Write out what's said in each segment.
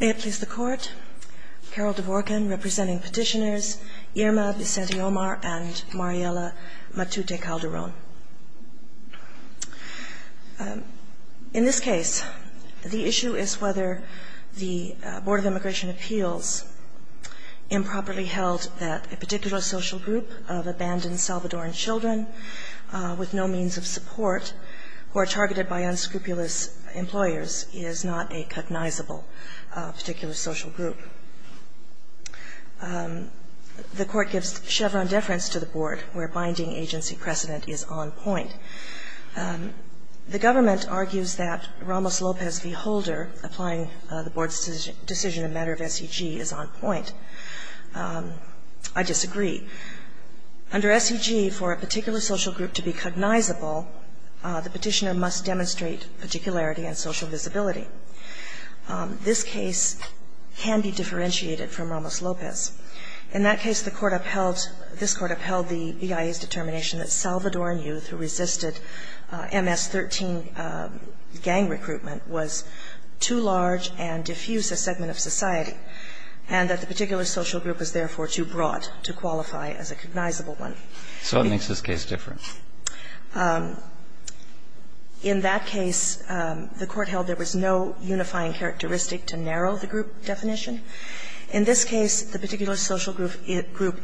May it please the Court, Carol Dvorkin representing petitioners Irma Vicente-Omar and Mariela Matute-Calderon. In this case, the issue is whether the Board of Immigration Appeals improperly held that a particular social group of abandoned Salvadoran children with no means of support who are targeted by unscrupulous employers is not a cognizable particular social group. The Court gives Chevron deference to the Board where binding agency precedent is on point. The government argues that Ramos-Lopez v. Holder applying the Board's decision in a matter of SEG is on point. I disagree. Under SEG, for a particular social group to be cognizable, the petitioner must demonstrate particularity and social visibility. This case can be differentiated from Ramos-Lopez. In that case, the Court upheld, this Court upheld the EIA's determination that Salvadoran youth who resisted MS-13 gang recruitment was too large and diffuse a segment of society, and that the particular social group was therefore too broad to qualify as a cognizable one. So what makes this case different? In that case, the Court held there was no unifying characteristic to narrow the group definition. In this case, the particular social group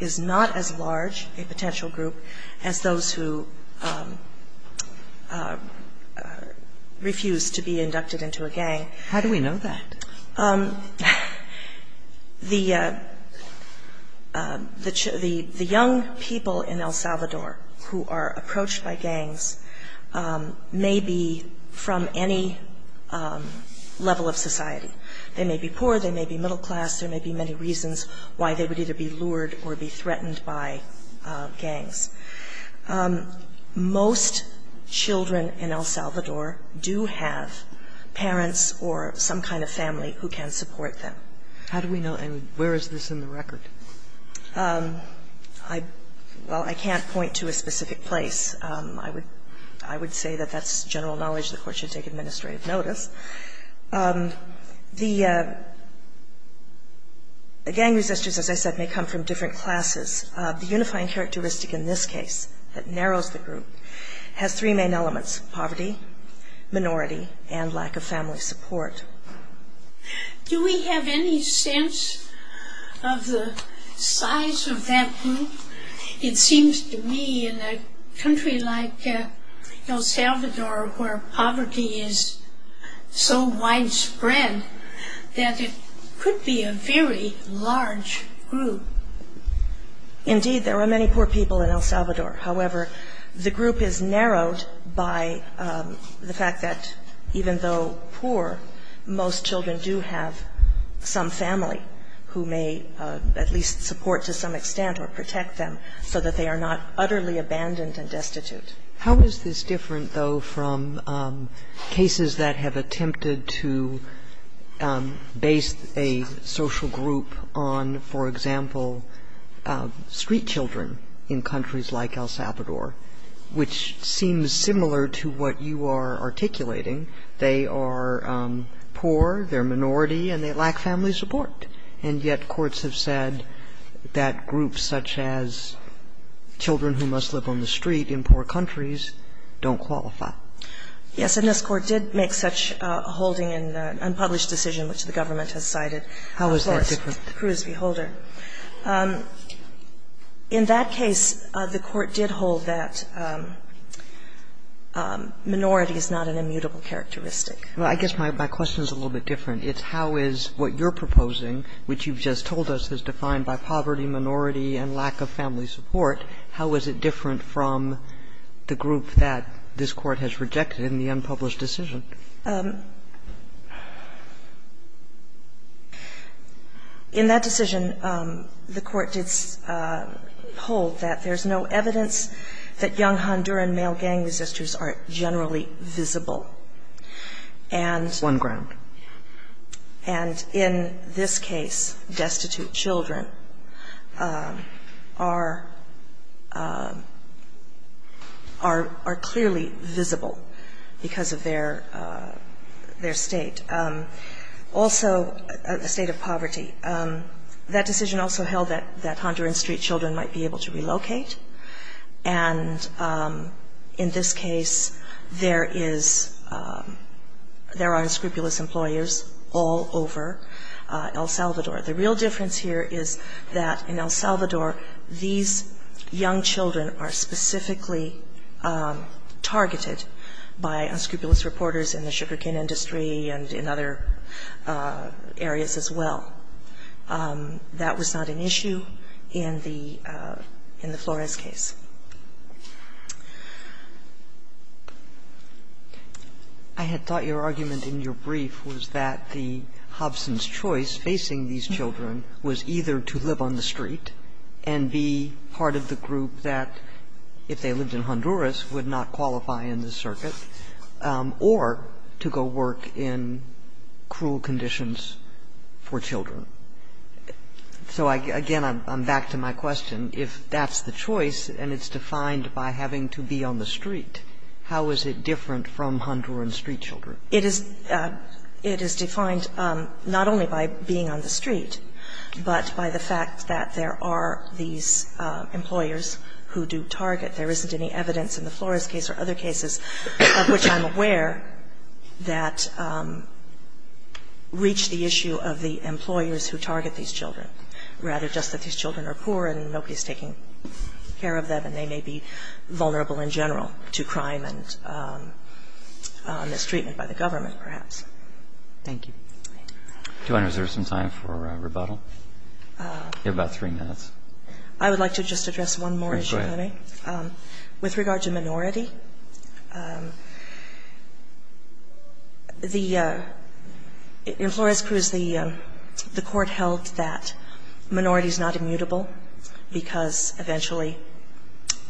is not as large a potential group as those who refuse to be inducted into a gang. How do we know that? The young people in El Salvador who are approached by gangs may be from any level of society. They may be poor. They may be middle class. There may be many reasons why they would either be lured or be threatened by gangs. Most children in El Salvador do have parents or some kind of family who can support them. How do we know? And where is this in the record? Well, I can't point to a specific place. I would say that that's general knowledge. The Court should take administrative notice. The gang resistors, as I said, may come from different classes. The unifying characteristic in this case that narrows the group has three main elements, poverty, minority, and lack of family support. Do we have any sense of the size of that group? It seems to me in a country like El Salvador where poverty is so widespread that it could be a very large group. Indeed, there are many poor people in El Salvador. However, the group is narrowed by the fact that even though poor, most children do have some family who may at least support to some extent or protect them so that they are not utterly abandoned and destitute. How is this different, though, from cases that have attempted to base a social group on, for example, street children in countries like El Salvador, which seems similar to what you are articulating? They are poor, they're minority, and they lack family support, and yet courts have said that groups such as children who must live on the street in poor countries don't qualify. Yes, and this Court did make such a holding in an unpublished decision which the government has cited. How is that different? Of course, Cruz v. Holder. In that case, the Court did hold that minority is not an immutable characteristic. Well, I guess my question is a little bit different. It's how is what you're proposing, which you've just told us is defined by poverty, minority, and lack of family support, how is it different from the group that this Court has rejected in the unpublished decision? In that decision, the Court did hold that there's no evidence that young Honduran male gang resistors are generally visible. And one ground. And in this case, destitute children are clearly visible because of their, you know, their state. Also, a state of poverty. That decision also held that Honduran street children might be able to relocate. And in this case, there is, there are unscrupulous employers all over El Salvador. The real difference here is that in El Salvador, these young children are specifically targeted by unscrupulous reporters in the sugarcane industry and in other areas as well. That was not an issue in the Flores case. Sotomayor I had thought your argument in your brief was that the Hobson's choice facing these children was either to live on the street and be part of the group that, if they lived in Honduras, would not qualify in the circuit, or to go work in cruel conditions for children. So, again, I'm back to my question. If that's the choice and it's defined by having to be on the street, how is it different from Honduran street children? It is defined not only by being on the street, but by the fact that there are these employers who do target. There isn't any evidence in the Flores case or other cases of which I'm aware that reach the issue of the employers who target these children, rather just that these children are poor and nobody's taking care of them and they may be vulnerable in general to crime and mistreatment by the government, perhaps. Thank you. Do I reserve some time for rebuttal? You have about three minutes. I would like to just address one more issue. Please go ahead. With regard to minority, in Flores Cruz, the Court held that minority is not immutable because eventually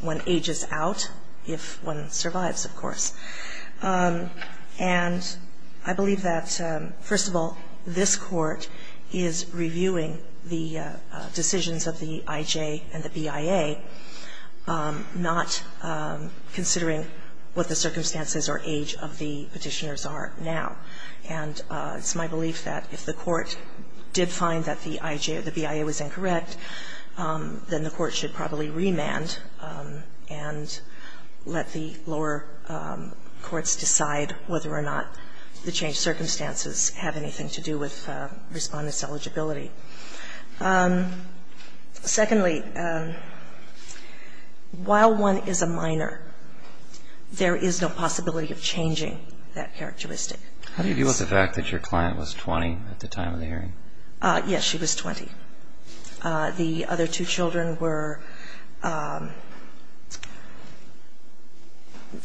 one ages out, if one survives, of course. And I believe that, first of all, this Court is reviewing the decisions of the IJ and the BIA, not considering what the circumstances or age of the petitioners are now. And it's my belief that if the Court did find that the IJ or the BIA was incorrect, then the Court should probably remand and let the lower courts decide whether or not the changed circumstances have anything to do with respondents' eligibility. Secondly, while one is a minor, there is no possibility of changing that characteristic. How do you deal with the fact that your client was 20 at the time of the hearing? Yes, she was 20. The other two children were 9 and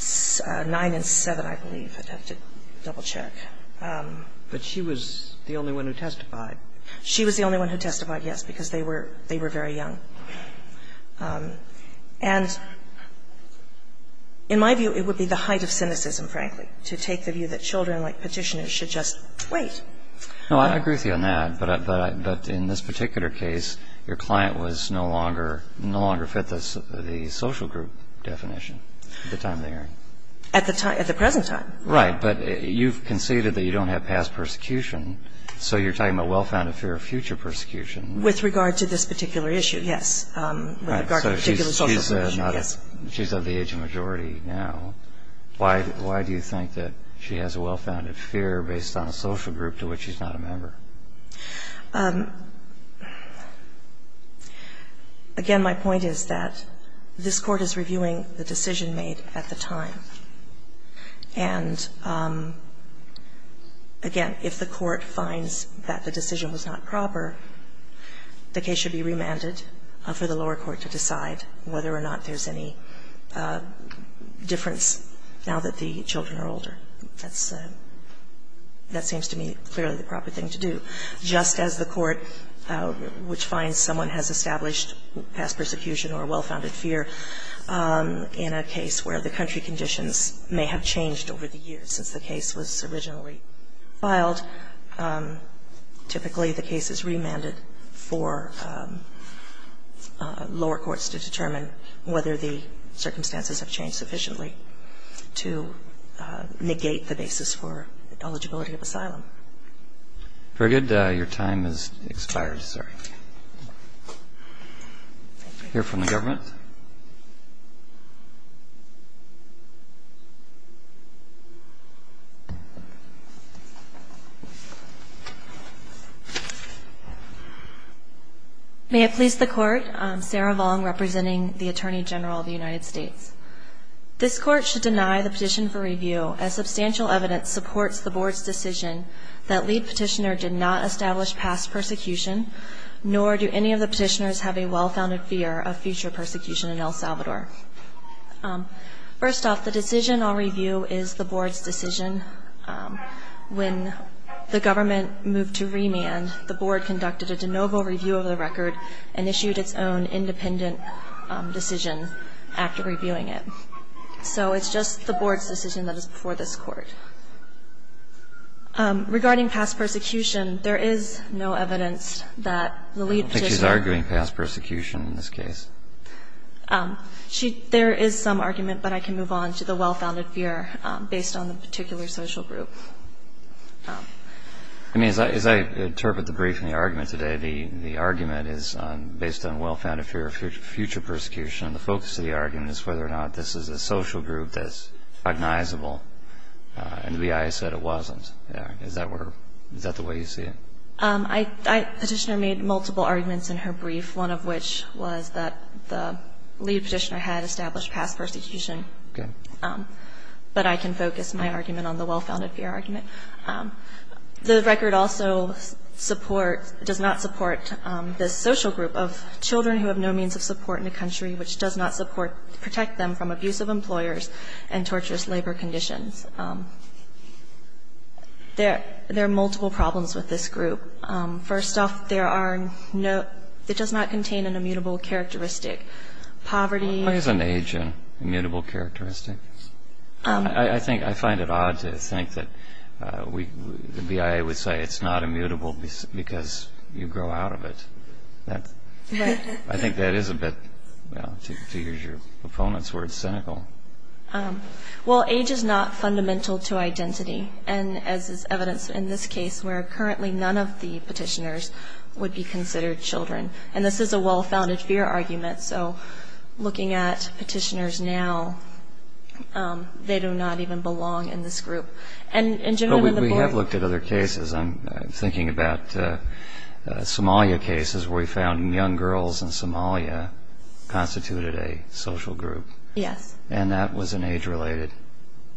7, I believe. I'd have to double-check. But she was the only one who testified. She was the only one who testified, yes, because they were very young. And in my view, it would be the height of cynicism, frankly, to take the view that children like petitioners should just wait. No, I agree with you on that, but in this particular case, your client was no longer fit the social group definition at the time of the hearing. At the present time. Right. But you've conceded that you don't have past persecution, so you're talking about well-founded fear of future persecution. With regard to this particular issue, yes. With regard to the particular social group issue, yes. She's of the aging majority now. Why do you think that she has a well-founded fear based on a social group to which she's not a member? Again, my point is that this Court is reviewing the decision made at the time. And again, if the Court finds that the decision was not proper, the case should be remanded for the lower court to decide whether or not there's any difference now that the children are older. That's a – that seems to me clearly the proper thing to do, just as the Court, which finds someone has established past persecution or a well-founded fear in a case where the country conditions may have changed over the years since the case was originally filed. Typically, the case is remanded for lower courts to determine whether the circumstances have changed sufficiently to negate the basis for eligibility of asylum. Very good. Your time has expired, sir. Thank you. We'll hear from the government. May it please the Court. I'm Sarah Long, representing the Attorney General of the United States. This Court should deny the petition for review as substantial evidence supports the nor do any of the petitioners have a well-founded fear of future persecution in El Salvador. First off, the decision I'll review is the Board's decision. When the government moved to remand, the Board conducted a de novo review of the record and issued its own independent decision after reviewing it. So it's just the Board's decision that is before this Court. Regarding past persecution, there is no evidence that the lead petitioner I don't think she's arguing past persecution in this case. There is some argument, but I can move on to the well-founded fear based on the particular social group. I mean, as I interpret the brief and the argument today, the argument is based on well-founded fear of future persecution. The focus of the argument is whether or not this is a social group that's cognizable. And the BIA said it wasn't. Is that the way you see it? The petitioner made multiple arguments in her brief, one of which was that the lead petitioner had established past persecution. But I can focus my argument on the well-founded fear argument. The record also does not support this social group of children who have no means of support in a country which does not support, protect them from abusive employers and torturous labor conditions. There are multiple problems with this group. First off, there are no It does not contain an immutable characteristic. Poverty What is an age immutable characteristic? I think I find it odd to think that the BIA would say it's not immutable because you grow out of it. I think that is a bit, to use your opponent's words, cynical. Well, age is not fundamental to identity, and as is evidence in this case where currently none of the petitioners would be considered children. And this is a well-founded fear argument. So looking at petitioners now, they do not even belong in this group. But we have looked at other cases. I'm thinking about Somalia cases where we found young girls in Somalia constituted a social group. Yes. And that was an age-related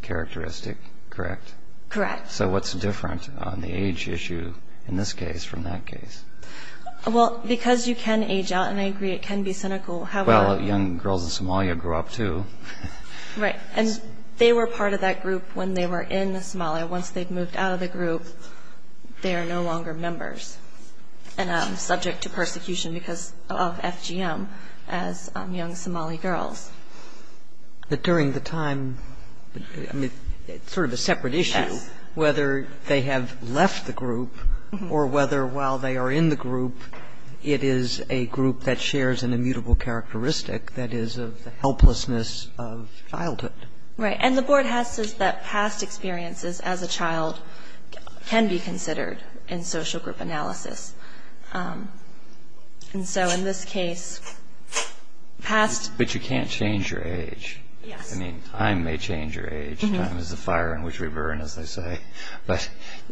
characteristic, correct? Correct. So what's different on the age issue in this case from that case? Well, because you can age out, and I agree it can be cynical. Well, young girls in Somalia grew up, too. Right. And they were part of that group when they were in Somalia. Once they've moved out of the group, they are no longer members, and subject to persecution because of FGM as young Somali girls. But during the time, sort of a separate issue, whether they have left the group or whether while they are in the group, it is a group that shares an immutable characteristic that is of the helplessness of childhood. Right. And the board has said that past experiences as a child can be considered in social group analysis. And so in this case, past... But you can't change your age. Yes. I mean, time may change your age. Time is a fire in which we burn, as they say. But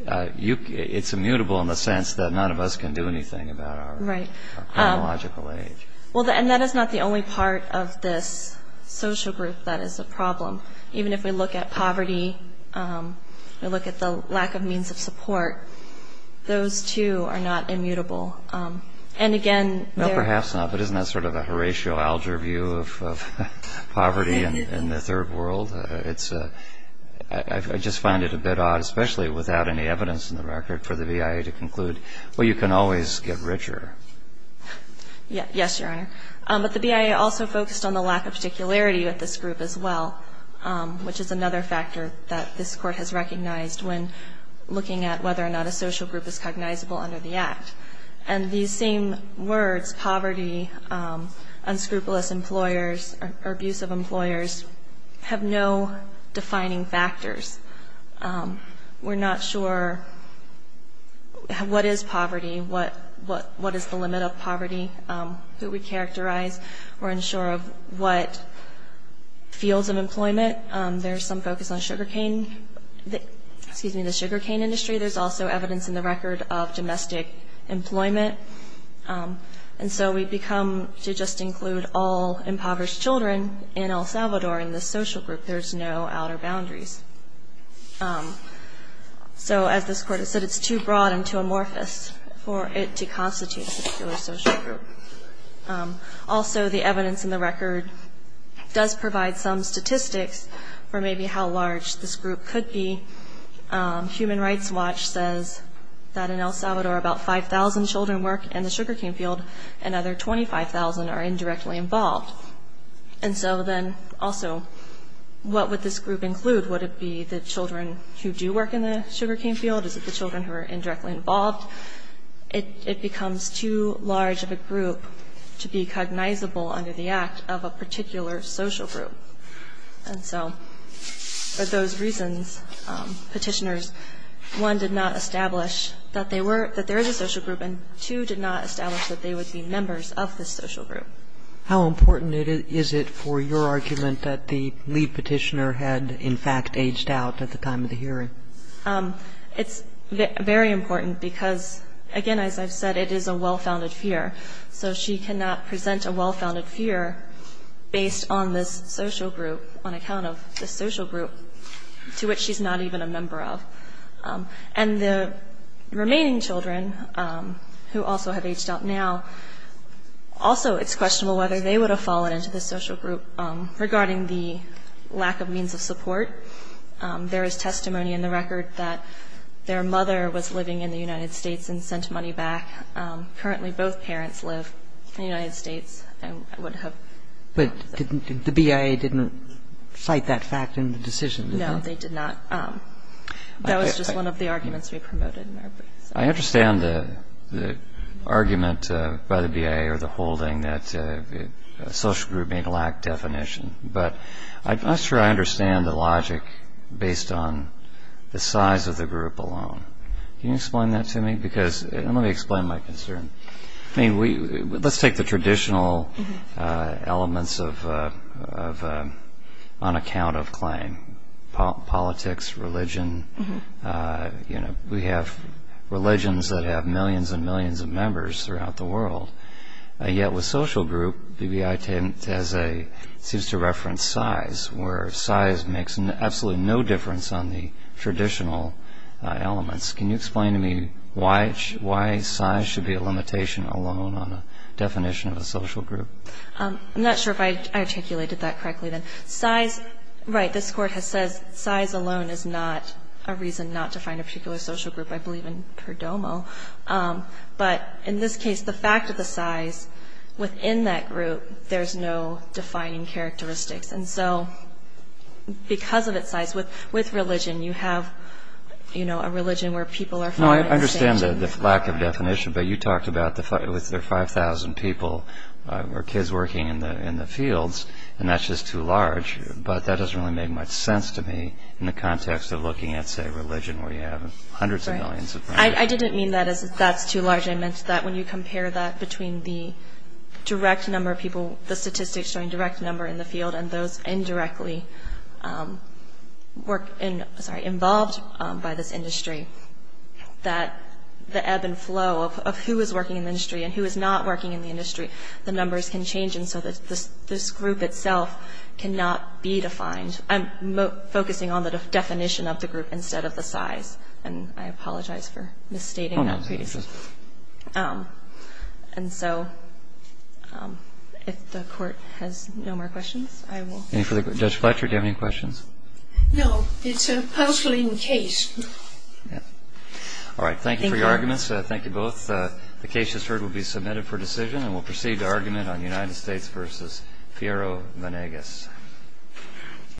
it's immutable in the sense that none of us can do anything about our chronological age. Well, and that is not the only part of this social group that is a problem. Even if we look at poverty, we look at the lack of means of support, those, too, are not immutable. And, again... No, perhaps not. But isn't that sort of a Horatio Alger view of poverty in the third world? I just find it a bit odd, especially without any evidence in the record, for the VIA to conclude, well, you can always get richer. Yes, Your Honor. But the VIA also focused on the lack of particularity with this group as well, which is another factor that this Court has recognized when looking at whether or not a social group is cognizable under the Act. And these same words, poverty, unscrupulous employers, or abusive employers, have no defining factors. We're not sure what is poverty, what is the limit of poverty, who we characterize. We're unsure of what fields of employment. There's some focus on sugarcane, excuse me, the sugarcane industry. There's also evidence in the record of domestic employment. And so we've become to just include all impoverished children in El Salvador in this social group. There's no outer boundaries. So as this Court has said, it's too broad and too amorphous for it to constitute a particular social group. Also, the evidence in the record does provide some statistics for maybe how large this group could be. Human Rights Watch says that in El Salvador about 5,000 children work in the sugarcane field, and another 25,000 are indirectly involved. And so then also, what would this group include? Would it be the children who do work in the sugarcane field? Is it the children who are indirectly involved? It becomes too large of a group to be cognizable under the Act of a particular social group. And so for those reasons, Petitioners 1, did not establish that there is a social group, and 2, did not establish that they would be members of this social group. How important is it for your argument that the lead petitioner had, in fact, aged out at the time of the hearing? It's very important because, again, as I've said, it is a well-founded fear. So she cannot present a well-founded fear based on this social group, on account of this social group, to which she's not even a member of. And the remaining children who also have aged out now, also it's questionable whether they would have fallen into this social group regarding the lack of means of support. There is testimony in the record that their mother was living in the United States and sent money back. Currently, both parents live in the United States and would have. But didn't the BIA didn't cite that fact in the decision? No, they did not. That was just one of the arguments we promoted. I understand the argument by the BIA or the holding that a social group may lack definition. But I'm not sure I understand the logic based on the size of the group alone. Can you explain that to me? Because let me explain my concern. I mean, let's take the traditional elements on account of claim. Politics, religion, we have religions that have millions and millions of members throughout the world. Yet with social group, BBI seems to reference size, where size makes absolutely no difference on the traditional elements. Can you explain to me why size should be a limitation alone on a definition of a social group? I'm not sure if I articulated that correctly then. Size, right, this Court has said size alone is not a reason not to find a particular social group. I believe in Perdomo. But in this case, the fact of the size within that group, there's no defining characteristics. And so because of its size, with religion, you have, you know, a religion where people are fine. I understand the lack of definition, but you talked about with their 5,000 people or kids working in the fields, and that's just too large. But that doesn't really make much sense to me in the context of looking at, say, religion where you have hundreds of millions of people. I didn't mean that as that's too large. I meant that when you compare that between the direct number of people, the statistics showing direct number in the field and those indirectly involved by this industry, that the ebb and flow of who is working in the industry and who is not working in the industry, the numbers can change. And so this group itself cannot be defined. I'm focusing on the definition of the group instead of the size. And I apologize for misstating that piece. And so if the Court has no more questions, I will. Judge Fletcher, do you have any questions? No. It's a puzzling case. All right. Thank you for your arguments. Thank you both. The case just heard will be submitted for decision, and we'll proceed to argument on United States v. Fierro-Vanegas.